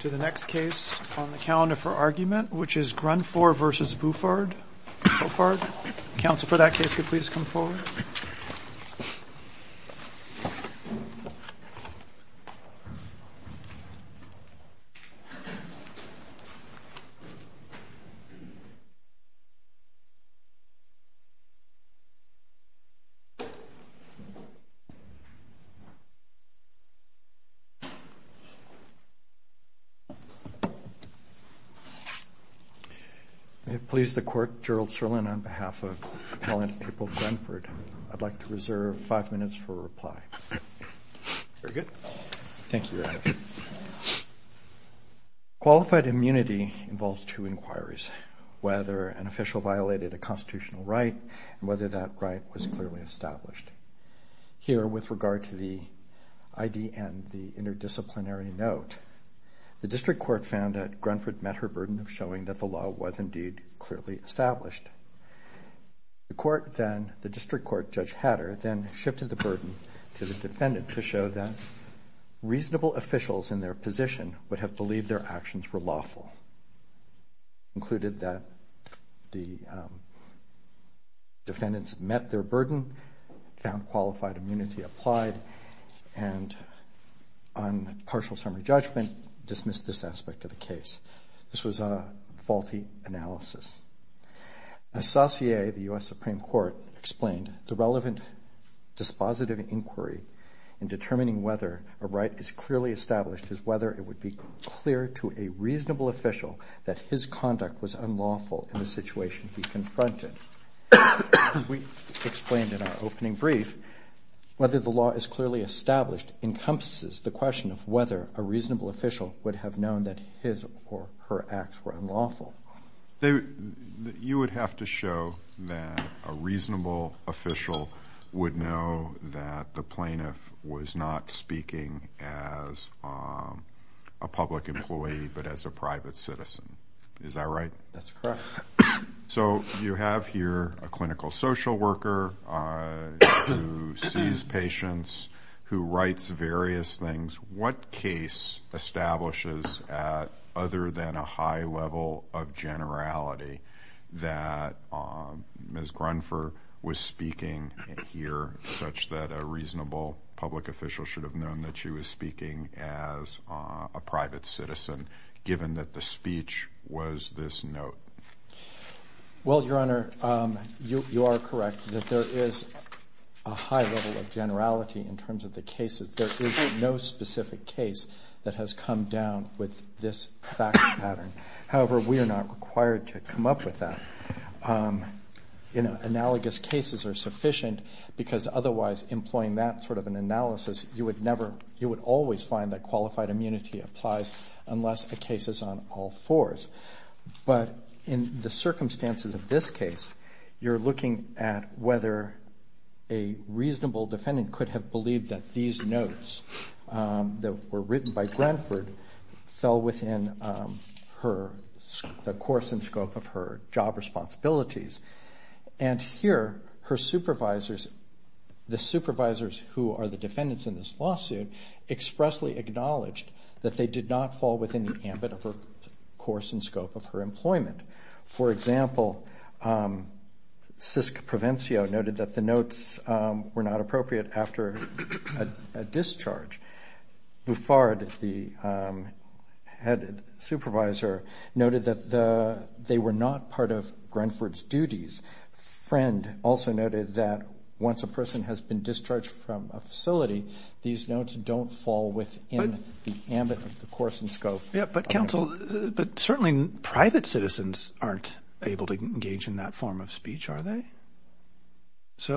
to the next case on the calendar for argument, which is Grundfor v. Bouffard. Council for that case, could please come forward. If it pleases the court, Gerald Sirlin, on behalf of Appellant April Grundford, I'd like to reserve five minutes for a reply. Very good. Thank you, Your Honor. Qualified immunity involves two inquiries, whether an official violated a constitutional right and whether that right was clearly established. Here, with regard to the ID and the interdisciplinary note, the district court found that Grundford met her burden of showing that the law was indeed clearly established. The district court, Judge Hatter, then shifted the burden to the defendant to show that reasonable officials in their position would have believed their actions were lawful. Included that the defendants met their burden, found qualified immunity applied, and on partial summary judgment, dismissed this aspect of the case. This was a faulty analysis. As Saussure, the U.S. Supreme Court, explained, the relevant dispositive inquiry in determining whether a right is clearly established is whether it would be clear to a reasonable official that his conduct was unlawful in the situation he confronted. As we explained in our opening brief, whether the law is clearly established encompasses the question of whether a reasonable official would have known that his or her acts were unlawful. You would have to show that a reasonable official would know that the plaintiff was not speaking as a public employee but as a private citizen. Is that right? That's correct. So you have here a clinical social worker who sees patients, who writes various things. What case establishes, other than a high level of generality, that Ms. Grunfer was speaking here, such that a reasonable public official should have known that she was speaking as a private citizen, given that the speech was this note? Well, Your Honor, you are correct that there is a high level of generality in terms of the cases. There is no specific case that has come down with this fact pattern. However, we are not required to come up with that. Analogous cases are sufficient because otherwise employing that sort of an analysis, you would always find that qualified immunity applies unless the case is on all fours. But in the circumstances of this case, you're looking at whether a reasonable defendant could have believed that these notes that were written by Grunfer fell within the course and scope of her job responsibilities. And here, her supervisors, the supervisors who are the defendants in this lawsuit, expressly acknowledged that they did not fall within the ambit of her course and scope of her employment. For example, Sisk Provencio noted that the notes were not appropriate after a discharge. Buffard, the head supervisor, noted that they were not part of Grunfer's duties. Friend also noted that once a person has been discharged from a facility, these notes don't fall within the ambit of the course and scope. But certainly private citizens aren't able to engage in that form of speech, are they? She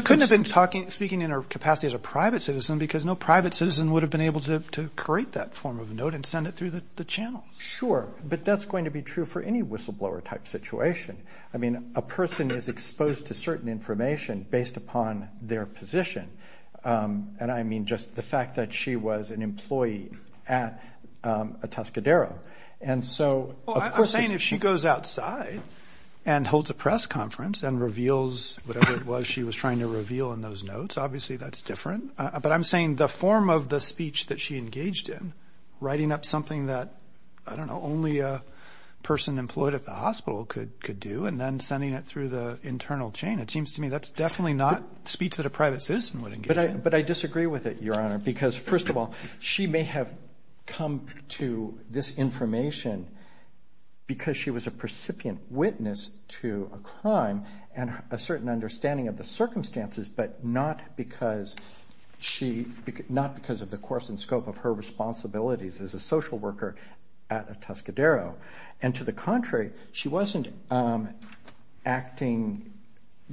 couldn't have been speaking in her capacity as a private citizen because no private citizen would have been able to create that form of note and send it through the channels. Sure, but that's going to be true for any whistleblower-type situation. I mean, a person is exposed to certain information based upon their position. And I mean just the fact that she was an employee at a Tuscadero. And so, of course it's- Well, I'm saying if she goes outside and holds a press conference and reveals whatever it was she was trying to reveal in those notes, obviously that's different. But I'm saying the form of the speech that she engaged in, writing up something that, I don't know, only a person employed at the hospital could do and then sending it through the internal chain, it seems to me that's definitely not speech that a private citizen would engage in. But I disagree with it, Your Honor, because first of all she may have come to this information because she was a precipient witness to a crime and a certain understanding of the circumstances but not because of the course and scope of her responsibilities as a social worker at a Tuscadero. And to the contrary, she wasn't acting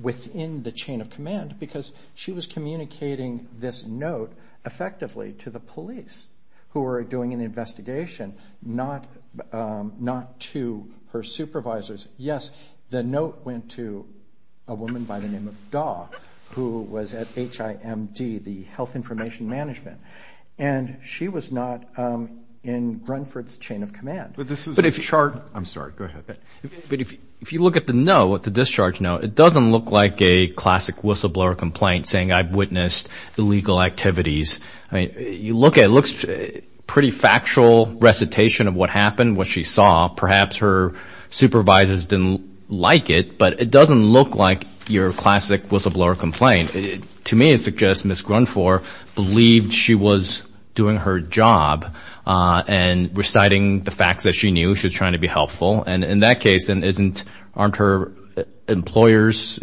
within the chain of command because she was communicating this note effectively to the police who were doing an investigation, not to her supervisors. Yes, the note went to a woman by the name of Daw, who was at HIMD, the Health Information Management, and she was not in Grunford's chain of command. But this is a chart- I'm sorry, go ahead. But if you look at the note, the discharge note, it doesn't look like a classic whistleblower complaint saying, I've witnessed illegal activities. I mean, you look at it, it looks pretty factual recitation of what happened, what she saw. Perhaps her supervisors didn't like it, but it doesn't look like your classic whistleblower complaint. To me, it suggests Ms. Grunford believed she was doing her job and reciting the facts that she knew she was trying to be helpful. And in that case, aren't her employers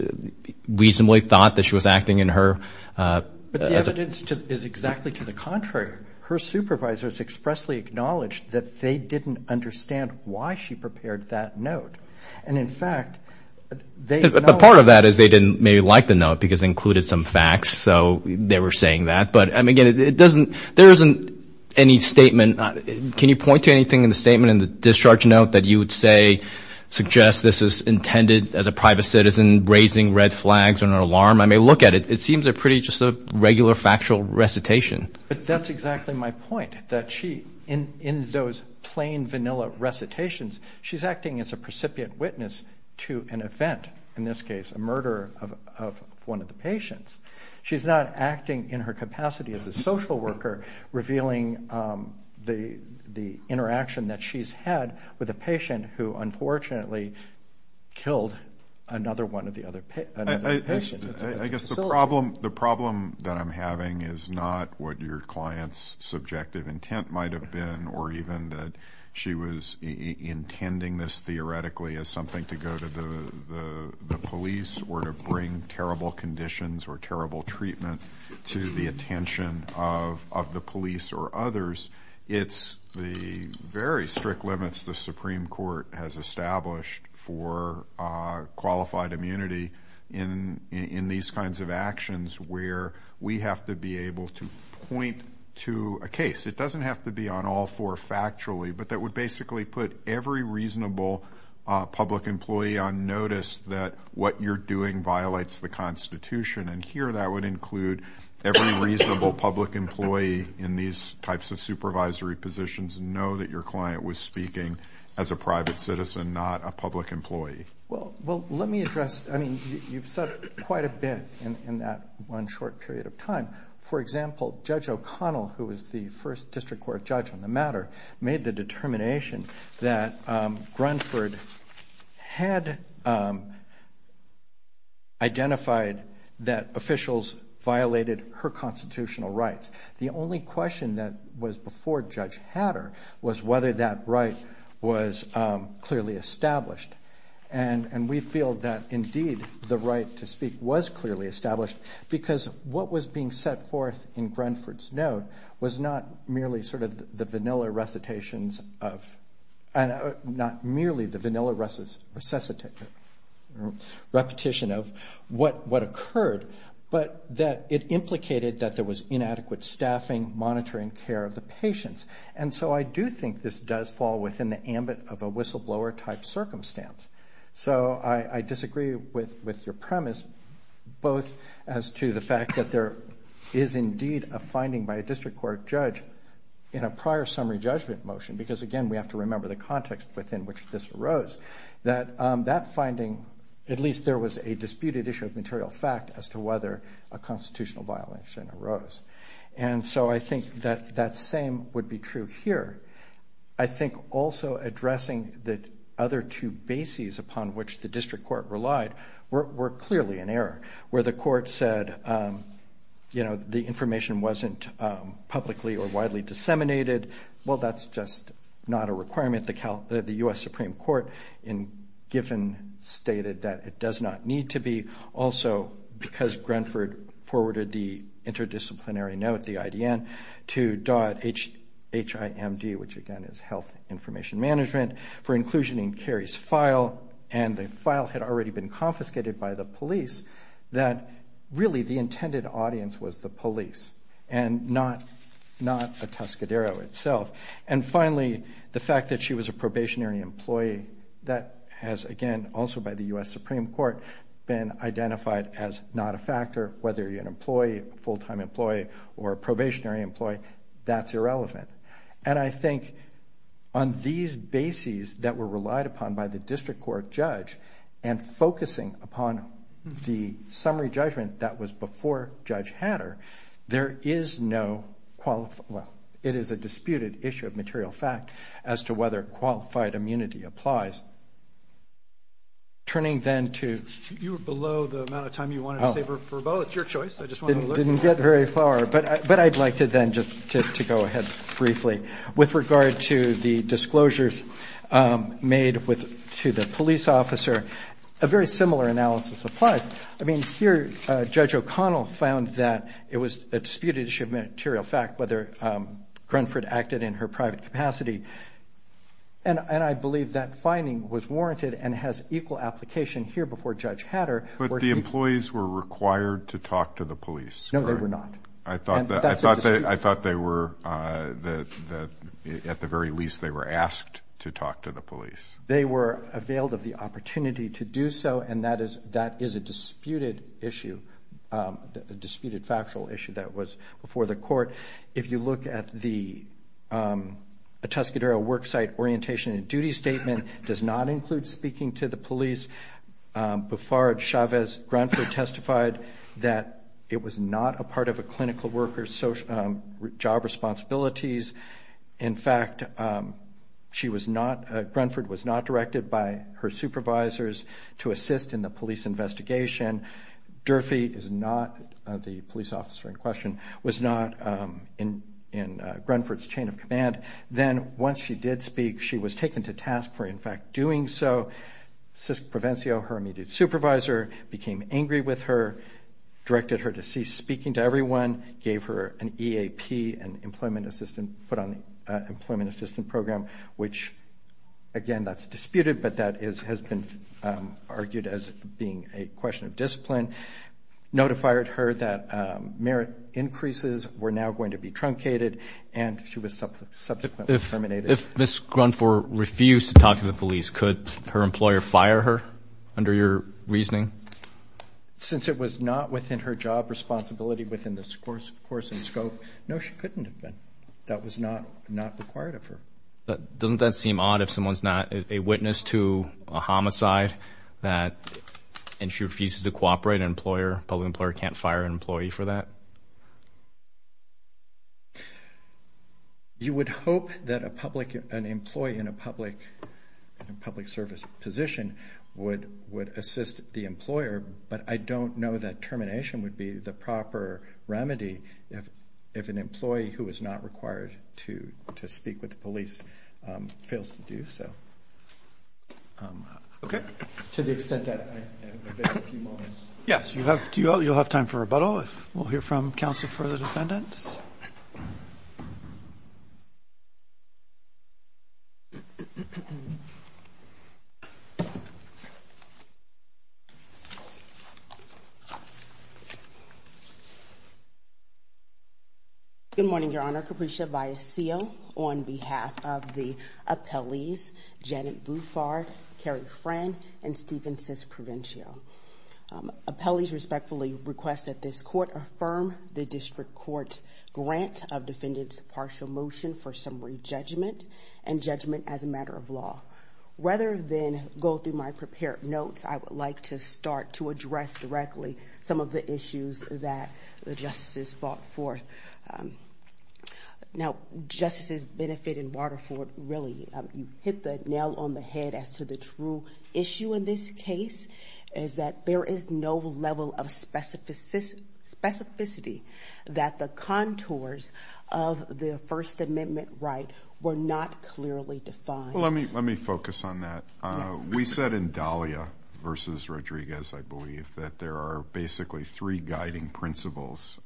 reasonably thought that she was acting in her- But the evidence is exactly to the contrary. Her supervisors expressly acknowledged that they didn't understand why she prepared that note. And, in fact, they- But part of that is they didn't maybe like the note because it included some facts, so they were saying that. But, again, there isn't any statement. Can you point to anything in the statement, in the discharge note, that you would say suggests this is intended, as a private citizen, raising red flags or an alarm? I mean, look at it. It seems pretty just a regular factual recitation. But that's exactly my point, that she, in those plain, vanilla recitations, she's acting as a precipient witness to an event, in this case a murder of one of the patients. She's not acting in her capacity as a social worker, revealing the interaction that she's had with a patient who, unfortunately, killed another one of the other patients. I guess the problem that I'm having is not what your client's subjective intent might have been, or even that she was intending this theoretically as something to go to the police or to bring terrible conditions or terrible treatment to the attention of the police or others. It's the very strict limits the Supreme Court has established for qualified immunity in these kinds of actions where we have to be able to point to a case. It doesn't have to be on all four factually, but that would basically put every reasonable public employee on notice that what you're doing violates the Constitution. And here that would include every reasonable public employee in these types of supervisory positions. Know that your client was speaking as a private citizen, not a public employee. Well, let me address, I mean, you've said quite a bit in that one short period of time. For example, Judge O'Connell, who was the first district court judge on the matter, made the determination that Grunford had identified that officials violated her constitutional rights. The only question that was before Judge Hatter was whether that right was clearly established. And we feel that, indeed, the right to speak was clearly established because what was being set forth in Grunford's note was not merely sort of the vanilla recitations of, not merely the vanilla repetition of what occurred, but that it implicated that there was inadequate staffing, monitoring, care of the patients. And so I do think this does fall within the ambit of a whistleblower type circumstance. So I disagree with your premise, both as to the fact that there is indeed a finding by a district court judge in a prior summary judgment motion, because, again, we have to remember the context within which this arose, that that finding, at least there was a disputed issue of material fact as to whether a constitutional violation arose. And so I think that that same would be true here. I think also addressing the other two bases upon which the district court relied were clearly in error, where the court said, you know, the information wasn't publicly or widely disseminated. Well, that's just not a requirement. The U.S. Supreme Court in Giffen stated that it does not need to be, also because Grenford forwarded the interdisciplinary note, the IDN, to .himd, which again is Health Information Management, for inclusion in Carey's file, and the file had already been confiscated by the police, that really the intended audience was the police and not a Tuscadero itself. And finally, the fact that she was a probationary employee, that has, again, also by the U.S. Supreme Court been identified as not a factor, whether you're an employee, a full-time employee or a probationary employee, that's irrelevant. And I think on these bases that were relied upon by the district court judge and focusing upon the summary judgment that was before Judge Hatter, there is no, well, it is a disputed issue of material fact as to whether qualified immunity applies. Turning then to... You were below the amount of time you wanted to save her for a vote. It's your choice. I just wanted to look... I didn't get very far, but I'd like to then just to go ahead briefly. With regard to the disclosures made to the police officer, a very similar analysis applies. I mean, here Judge O'Connell found that it was a disputed issue of material fact whether Grunford acted in her private capacity. And I believe that finding was warranted and has equal application here before Judge Hatter... But the employees were required to talk to the police, correct? No, they were not. And that's a dispute. I thought they were at the very least they were asked to talk to the police. They were availed of the opportunity to do so, and that is a disputed issue, a disputed factual issue that was before the court. If you look at the Tuscadero worksite orientation and duty statement, it does not include speaking to the police. Buford, Chavez, Grunford testified that it was not a part of a clinical worker's job responsibilities. In fact, she was not, Grunford was not directed by her supervisors to assist in the police investigation. Durfee is not, the police officer in question, was not in Grunford's chain of command. Then once she did speak, she was taken to task for in fact doing so. CISC Provencio, her immediate supervisor, became angry with her, directed her to cease speaking to everyone, gave her an EAP, an Employment Assistance Program, which, again, that's disputed, but that has been argued as being a question of discipline, notified her that merit increases were now going to be truncated, and she was subsequently terminated. If Ms. Grunford refused to talk to the police, could her employer fire her under your reasoning? Since it was not within her job responsibility within the course and scope, no, she couldn't have been. That was not required of her. Doesn't that seem odd if someone's not a witness to a homicide that, and she refuses to cooperate, an employer, a public employer can't fire an employee for that? You would hope that an employee in a public service position would assist the employer, but I don't know that termination would be the proper remedy if an employee who is not required to speak with the police fails to do so. Okay. To the extent that I have a few moments. Yes, you'll have time for rebuttal if we'll hear from counsel for the defendants. Good morning, Your Honor. Senator Caprescia-Biasio on behalf of the appellees, Janet Bouffard, Kerry Fran, and Stephen Cisprovencio. Appellees respectfully request that this court affirm the district court's grant of defendant's partial motion for summary judgment and judgment as a matter of law. Rather than go through my prepared notes, I would like to start to address directly some of the issues that the justices fought for. Now, justices benefit in Waterford really, you hit the nail on the head as to the true issue in this case, is that there is no level of specificity that the contours of the First Amendment right were not clearly defined. Well, let me focus on that. We said in Dahlia v. Rodriguez, I believe, that there are basically three guiding principles.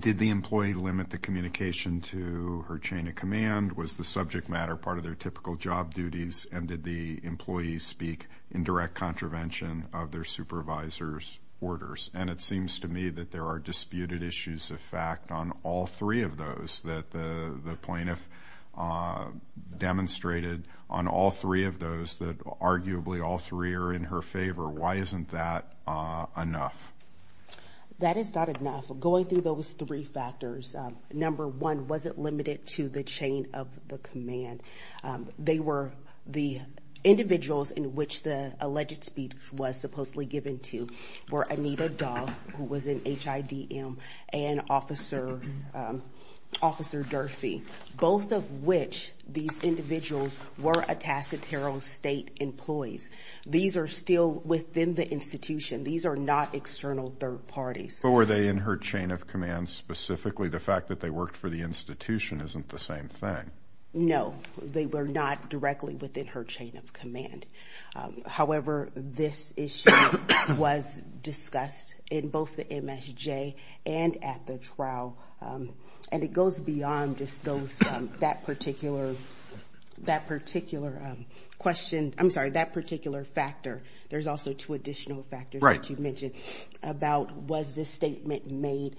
Did the employee limit the communication to her chain of command? Was the subject matter part of their typical job duties? And did the employee speak in direct contravention of their supervisor's orders? And it seems to me that there are disputed issues of fact on all three of those that the plaintiff demonstrated, on all three of those that arguably all three are in her favor. Why isn't that enough? That is not enough. Going through those three factors, number one, was it limited to the chain of the command? They were the individuals in which the alleged speech was supposedly given to were Anita Dahl, who was an HIDM, and Officer Durfee, both of which, these individuals, were Atascadero State employees. These are still within the institution. These are not external third parties. But were they in her chain of command specifically? The fact that they worked for the institution isn't the same thing. No. They were not directly within her chain of command. However, this issue was discussed in both the MSJ and at the trial, and it goes beyond just that particular question. I'm sorry, that particular factor. There's also two additional factors that you mentioned about was this statement made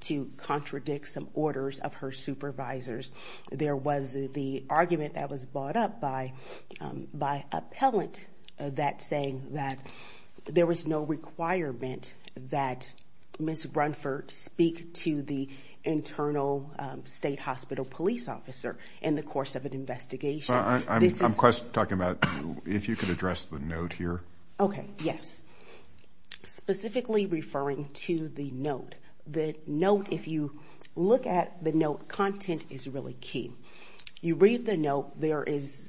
to contradict some orders of her supervisors. There was the argument that was brought up by appellant that saying that there was no requirement that Ms. Brunford speak to the internal state hospital police officer in the course of an investigation. I'm talking about if you could address the note here. Okay. Yes. Specifically referring to the note. If you look at the note, content is really key. You read the note. There is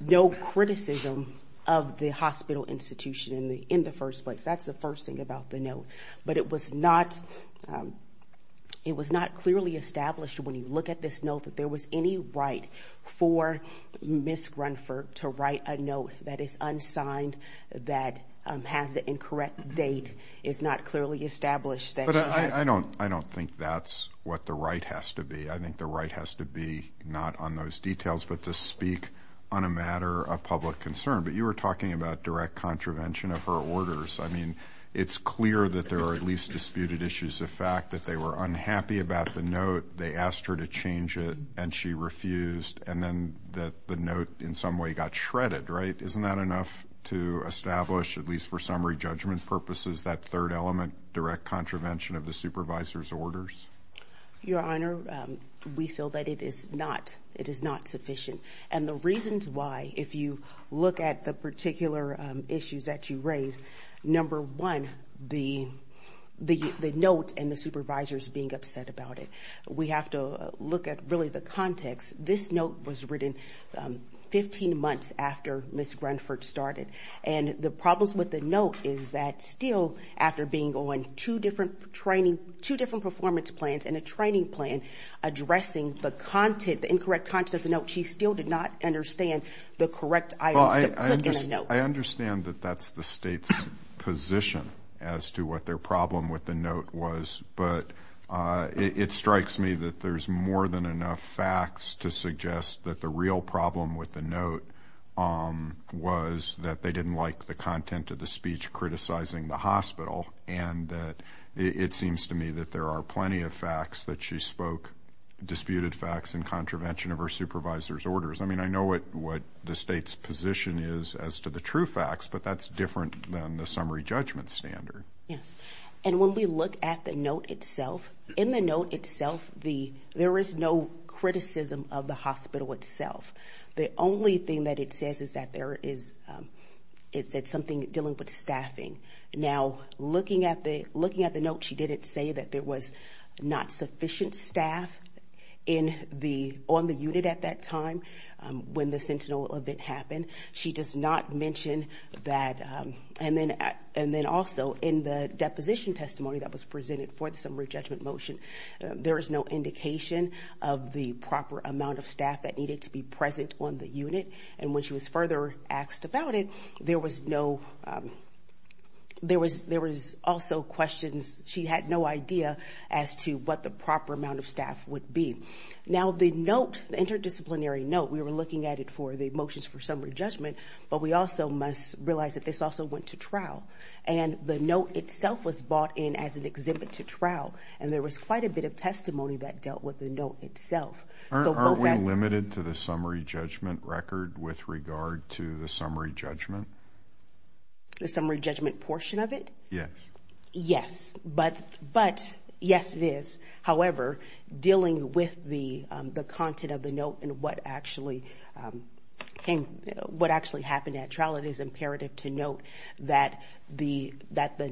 no criticism of the hospital institution in the first place. That's the first thing about the note. But it was not clearly established when you look at this note that there was any right for Ms. But I don't think that's what the right has to be. I think the right has to be not on those details but to speak on a matter of public concern. But you were talking about direct contravention of her orders. I mean, it's clear that there are at least disputed issues of fact that they were unhappy about the note. They asked her to change it, and she refused, and then the note in some way got shredded, right? Isn't that enough to establish, at least for summary judgment purposes, that third element, direct contravention of the supervisor's orders? Your Honor, we feel that it is not sufficient. And the reasons why, if you look at the particular issues that you raised, number one, the note and the supervisors being upset about it. We have to look at really the context. This note was written 15 months after Ms. Grunford started. And the problems with the note is that still, after being on two different performance plans and a training plan addressing the incorrect content of the note, she still did not understand the correct items to put in the note. I understand that that's the State's position as to what their problem with the note was, but it strikes me that there's more than enough facts to suggest that the real problem with the note was that they didn't like the content of the speech criticizing the hospital and that it seems to me that there are plenty of facts that she spoke, disputed facts in contravention of her supervisor's orders. I mean, I know what the State's position is as to the true facts, but that's different than the summary judgment standard. Yes. And when we look at the note itself, in the note itself, there is no criticism of the hospital itself. The only thing that it says is that there is something dealing with staffing. Now, looking at the note, she didn't say that there was not sufficient staff on the unit at that time when the Sentinel event happened. She does not mention that. And then also, in the deposition testimony that was presented for the summary judgment motion, there is no indication of the proper amount of staff that needed to be present on the unit. And when she was further asked about it, there was no – there was also questions. She had no idea as to what the proper amount of staff would be. Now, the note, the interdisciplinary note, we were looking at it for the motions for summary judgment, but we also must realize that this also went to trial. And the note itself was brought in as an exhibit to trial, and there was quite a bit of testimony that dealt with the note itself. Are we limited to the summary judgment record with regard to the summary judgment? The summary judgment portion of it? Yes. Yes. But, yes, it is. However, dealing with the content of the note and what actually happened at trial, it is imperative to note that the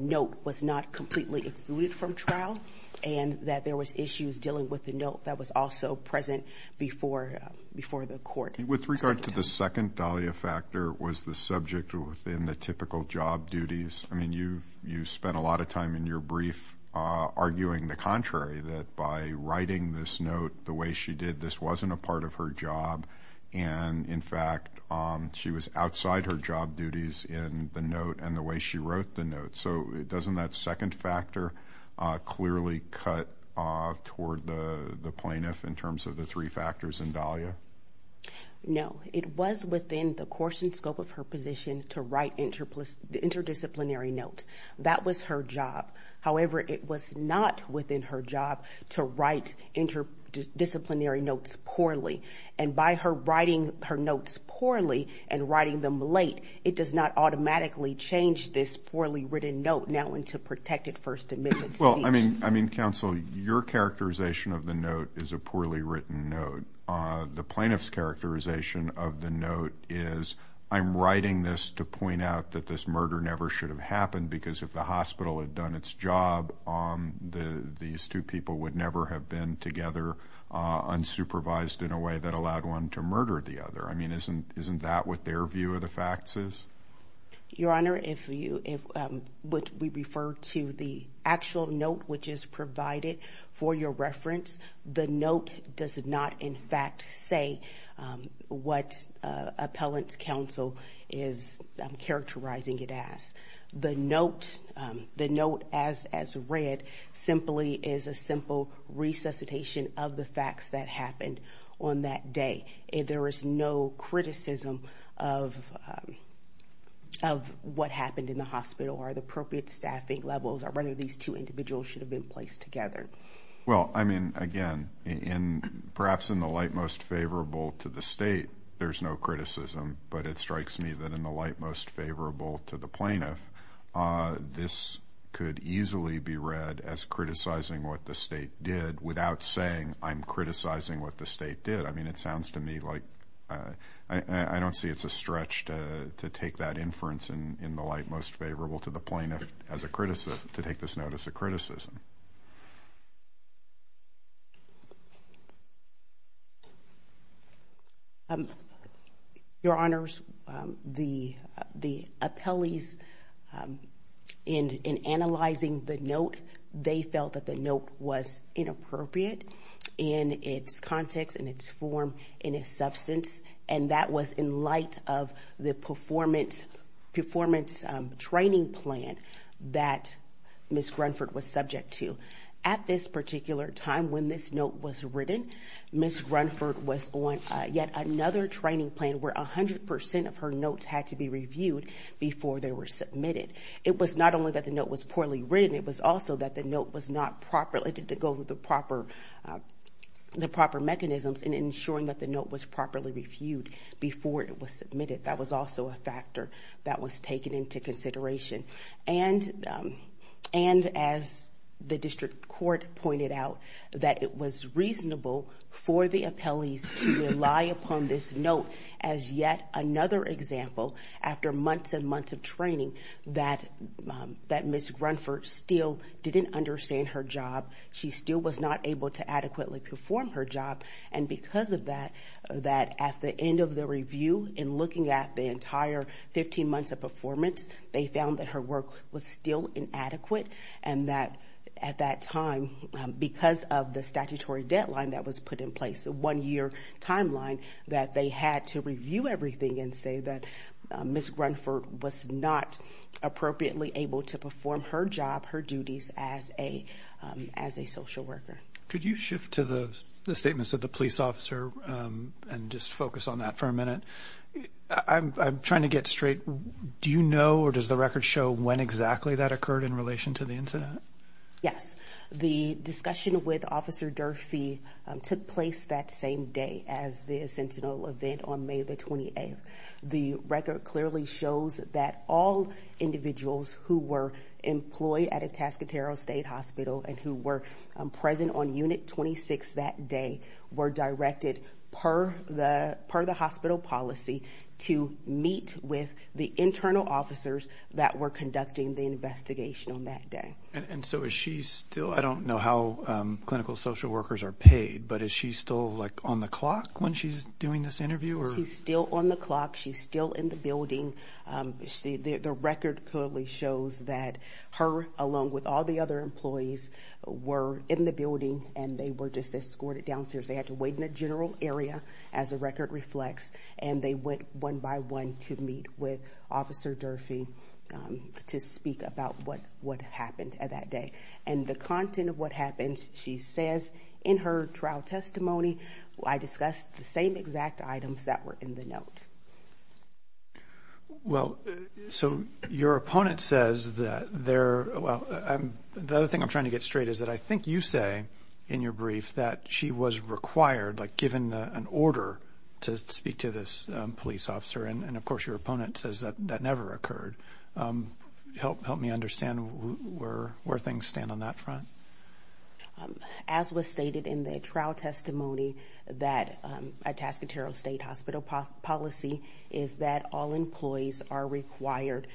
note was not completely excluded from trial and that there was issues dealing with the note that was also present before the court. With regard to the second Dahlia factor, was the subject within the typical job duties – I mean, you spent a lot of time in your brief arguing the contrary, that by writing this note the way she did, this wasn't a part of her job. And, in fact, she was outside her job duties in the note and the way she wrote the note. So doesn't that second factor clearly cut toward the plaintiff in terms of the three factors in Dahlia? No. It was within the course and scope of her position to write interdisciplinary notes. That was her job. However, it was not within her job to write interdisciplinary notes poorly. And by her writing her notes poorly and writing them late, it does not automatically change this poorly written note now into protected First Amendment speech. Well, I mean, counsel, your characterization of the note is a poorly written note. The plaintiff's characterization of the note is, I'm writing this to point out that this murder never should have happened because if the hospital had done its job, these two people would never have been together unsupervised in a way that allowed one to murder the other. I mean, isn't that what their view of the facts is? Your Honor, if we refer to the actual note which is provided for your reference, the note does not, in fact, say what appellant's counsel is characterizing it as. The note as read simply is a simple resuscitation of the facts that happened on that day. There is no criticism of what happened in the hospital or the appropriate staffing levels or whether these two individuals should have been placed together. Well, I mean, again, perhaps in the light most favorable to the state, there's no criticism, but it strikes me that in the light most favorable to the plaintiff, this could easily be read as criticizing what the state did without saying, I'm criticizing what the state did. I mean, it sounds to me like I don't see it's a stretch to take that inference in the light most favorable to the plaintiff as a criticism, to take this note as a criticism. Thank you. Your Honors, the appellees in analyzing the note, they felt that the note was inappropriate in its context, in its form, in its substance, and that was in light of the performance training plan that Ms. Grunford was subject to. At this particular time when this note was written, Ms. Grunford was on yet another training plan where 100% of her notes had to be reviewed before they were submitted. It was not only that the note was poorly written, it was also that the note was not properly, the proper mechanisms in ensuring that the note was properly reviewed before it was submitted. That was also a factor that was taken into consideration. And as the district court pointed out, that it was reasonable for the appellees to rely upon this note as yet another example after months and months of training that Ms. Grunford still didn't understand her job. She still was not able to adequately perform her job. And because of that, that at the end of the review, in looking at the entire 15 months of performance, they found that her work was still inadequate. And that at that time, because of the statutory deadline that was put in place, the one-year timeline, that they had to review everything and say that Ms. Grunford was not appropriately able to perform her job, her duties as a social worker. Could you shift to the statements of the police officer and just focus on that for a minute? I'm trying to get straight. Do you know or does the record show when exactly that occurred in relation to the incident? Yes. The discussion with Officer Durfee took place that same day as the Sentinel event on May the 28th. The record clearly shows that all individuals who were employed at Atascadero State Hospital and who were present on Unit 26 that day were directed per the hospital policy to meet with the internal officers that were conducting the investigation on that day. And so is she still – I don't know how clinical social workers are paid, but is she still on the clock when she's doing this interview? She's still on the clock. She's still in the building. The record clearly shows that her, along with all the other employees, were in the building, and they were just escorted downstairs. They had to wait in a general area, as the record reflects, and they went one by one to meet with Officer Durfee to speak about what happened that day. And the content of what happened, she says in her trial testimony, I discussed the same exact items that were in the note. Well, so your opponent says that there – well, the other thing I'm trying to get straight is that I think you say in your brief that she was required, like given an order, to speak to this police officer. And, of course, your opponent says that that never occurred. Help me understand where things stand on that front. As was stated in the trial testimony, that Atascadero State Hospital policy is that all employees are required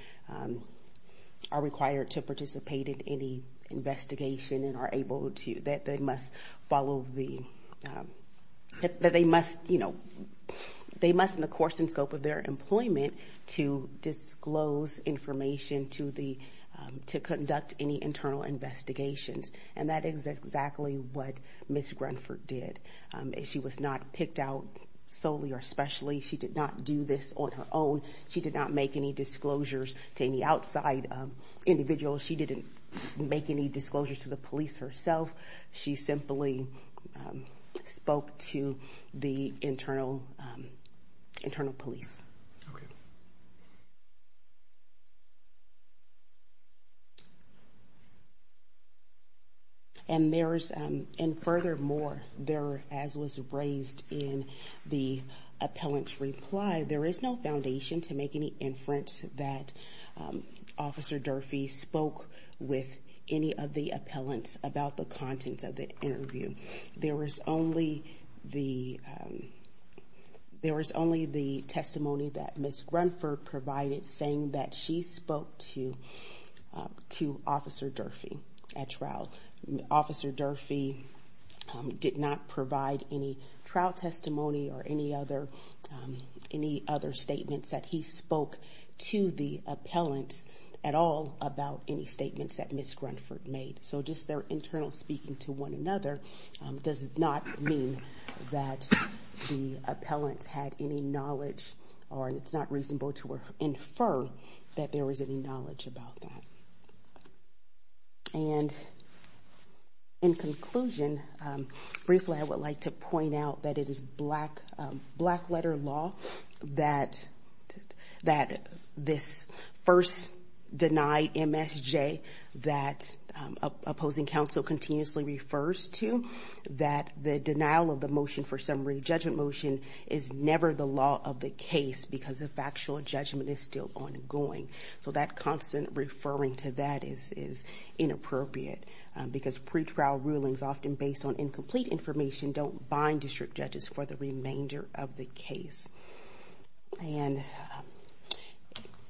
to participate in any investigation and are able to – that they must follow the – that they must, you know, they must in the course and scope of their employment to disclose information to the – to conduct any internal investigations. And that is exactly what Ms. Grunford did. She was not picked out solely or especially. She did not do this on her own. She did not make any disclosures to any outside individuals. She didn't make any disclosures to the police herself. She simply spoke to the internal police. Okay. And there's – and furthermore, there, as was raised in the appellant's reply, there is no foundation to make any inference that Officer Durfee spoke with any of the appellants about the contents of the interview. There was only the – there was only the testimony that Ms. Grunford provided saying that she spoke to Officer Durfee at trial. Officer Durfee did not provide any trial testimony or any other – any other statements that he spoke to the appellants at all about any statements that Ms. Grunford made. So just their internal speaking to one another does not mean that the appellants had any knowledge or it's not reasonable to infer that there was any knowledge about that. And in conclusion, briefly I would like to point out that it is black – black-letter law that – that this first-denied MSJ that opposing counsel continuously refers to, that the denial of the motion for summary judgment motion is never the law of the case because the factual judgment is still ongoing. So that constant referring to that is – is inappropriate because pretrial rulings often based on incomplete information don't bind district judges for the remainder of the case. And –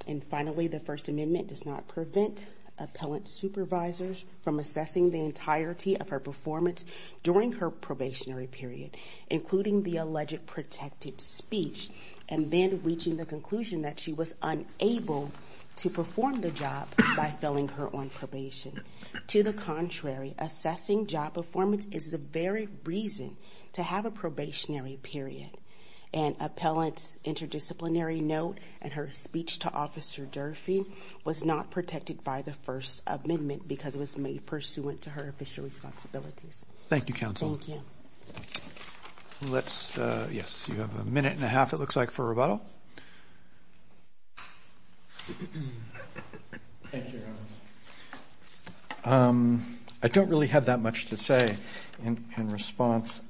and finally, the First Amendment does not prevent appellant supervisors from assessing the entirety of her performance during her probationary period, including the alleged protected speech, and then reaching the conclusion that she was unable to perform the job by filling her on probation. To the contrary, assessing job performance is the very reason to have a probationary period. And appellant's interdisciplinary note and her speech to Officer Durfee was not protected by the First Amendment because it was made pursuant to her official responsibilities. Thank you, counsel. Thank you. Let's – yes, you have a minute and a half, it looks like, for rebuttal. Thank you, Your Honor. I don't really have that much to say in response.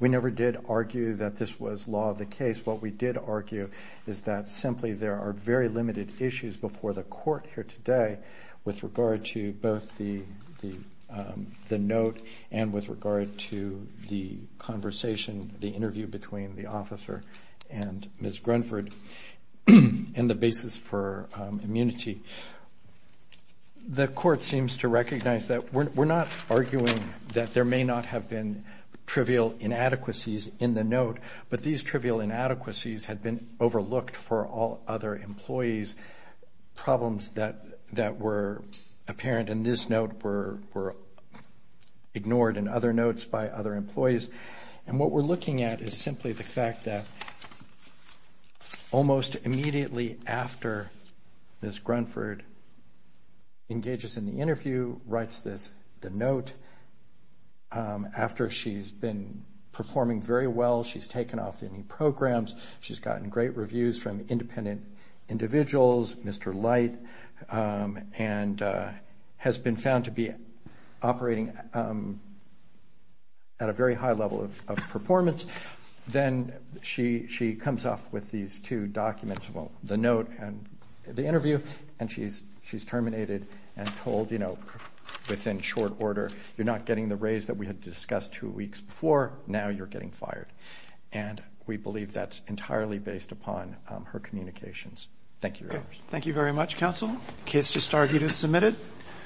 We never did argue that this was law of the case. What we did argue is that simply there are very limited issues before the Court here today with regard to both the – the note and with regard to the conversation, the interview between the officer and Ms. Grunford and the basis for immunity. The Court seems to recognize that we're not arguing that there may not have been trivial inadequacies in the note, but these trivial inadequacies had been overlooked for all other employees, problems that were apparent in this note were ignored in other notes by other employees. And what we're looking at is simply the fact that almost immediately after Ms. Grunford engages in the interview, writes this – the note, after she's been performing very well, she's taken off any programs, she's gotten great reviews from independent individuals, Mr. Light, and has been found to be operating at a very high level of performance, then she comes off with these two documents, well, the note and the interview, and she's terminated and told, you know, within short order, you're not getting the raise that we had discussed two weeks before, now you're getting fired. And we believe that's entirely based upon her communications. Thank you, Your Honors. Thank you very much, Counsel. Case to start is submitted.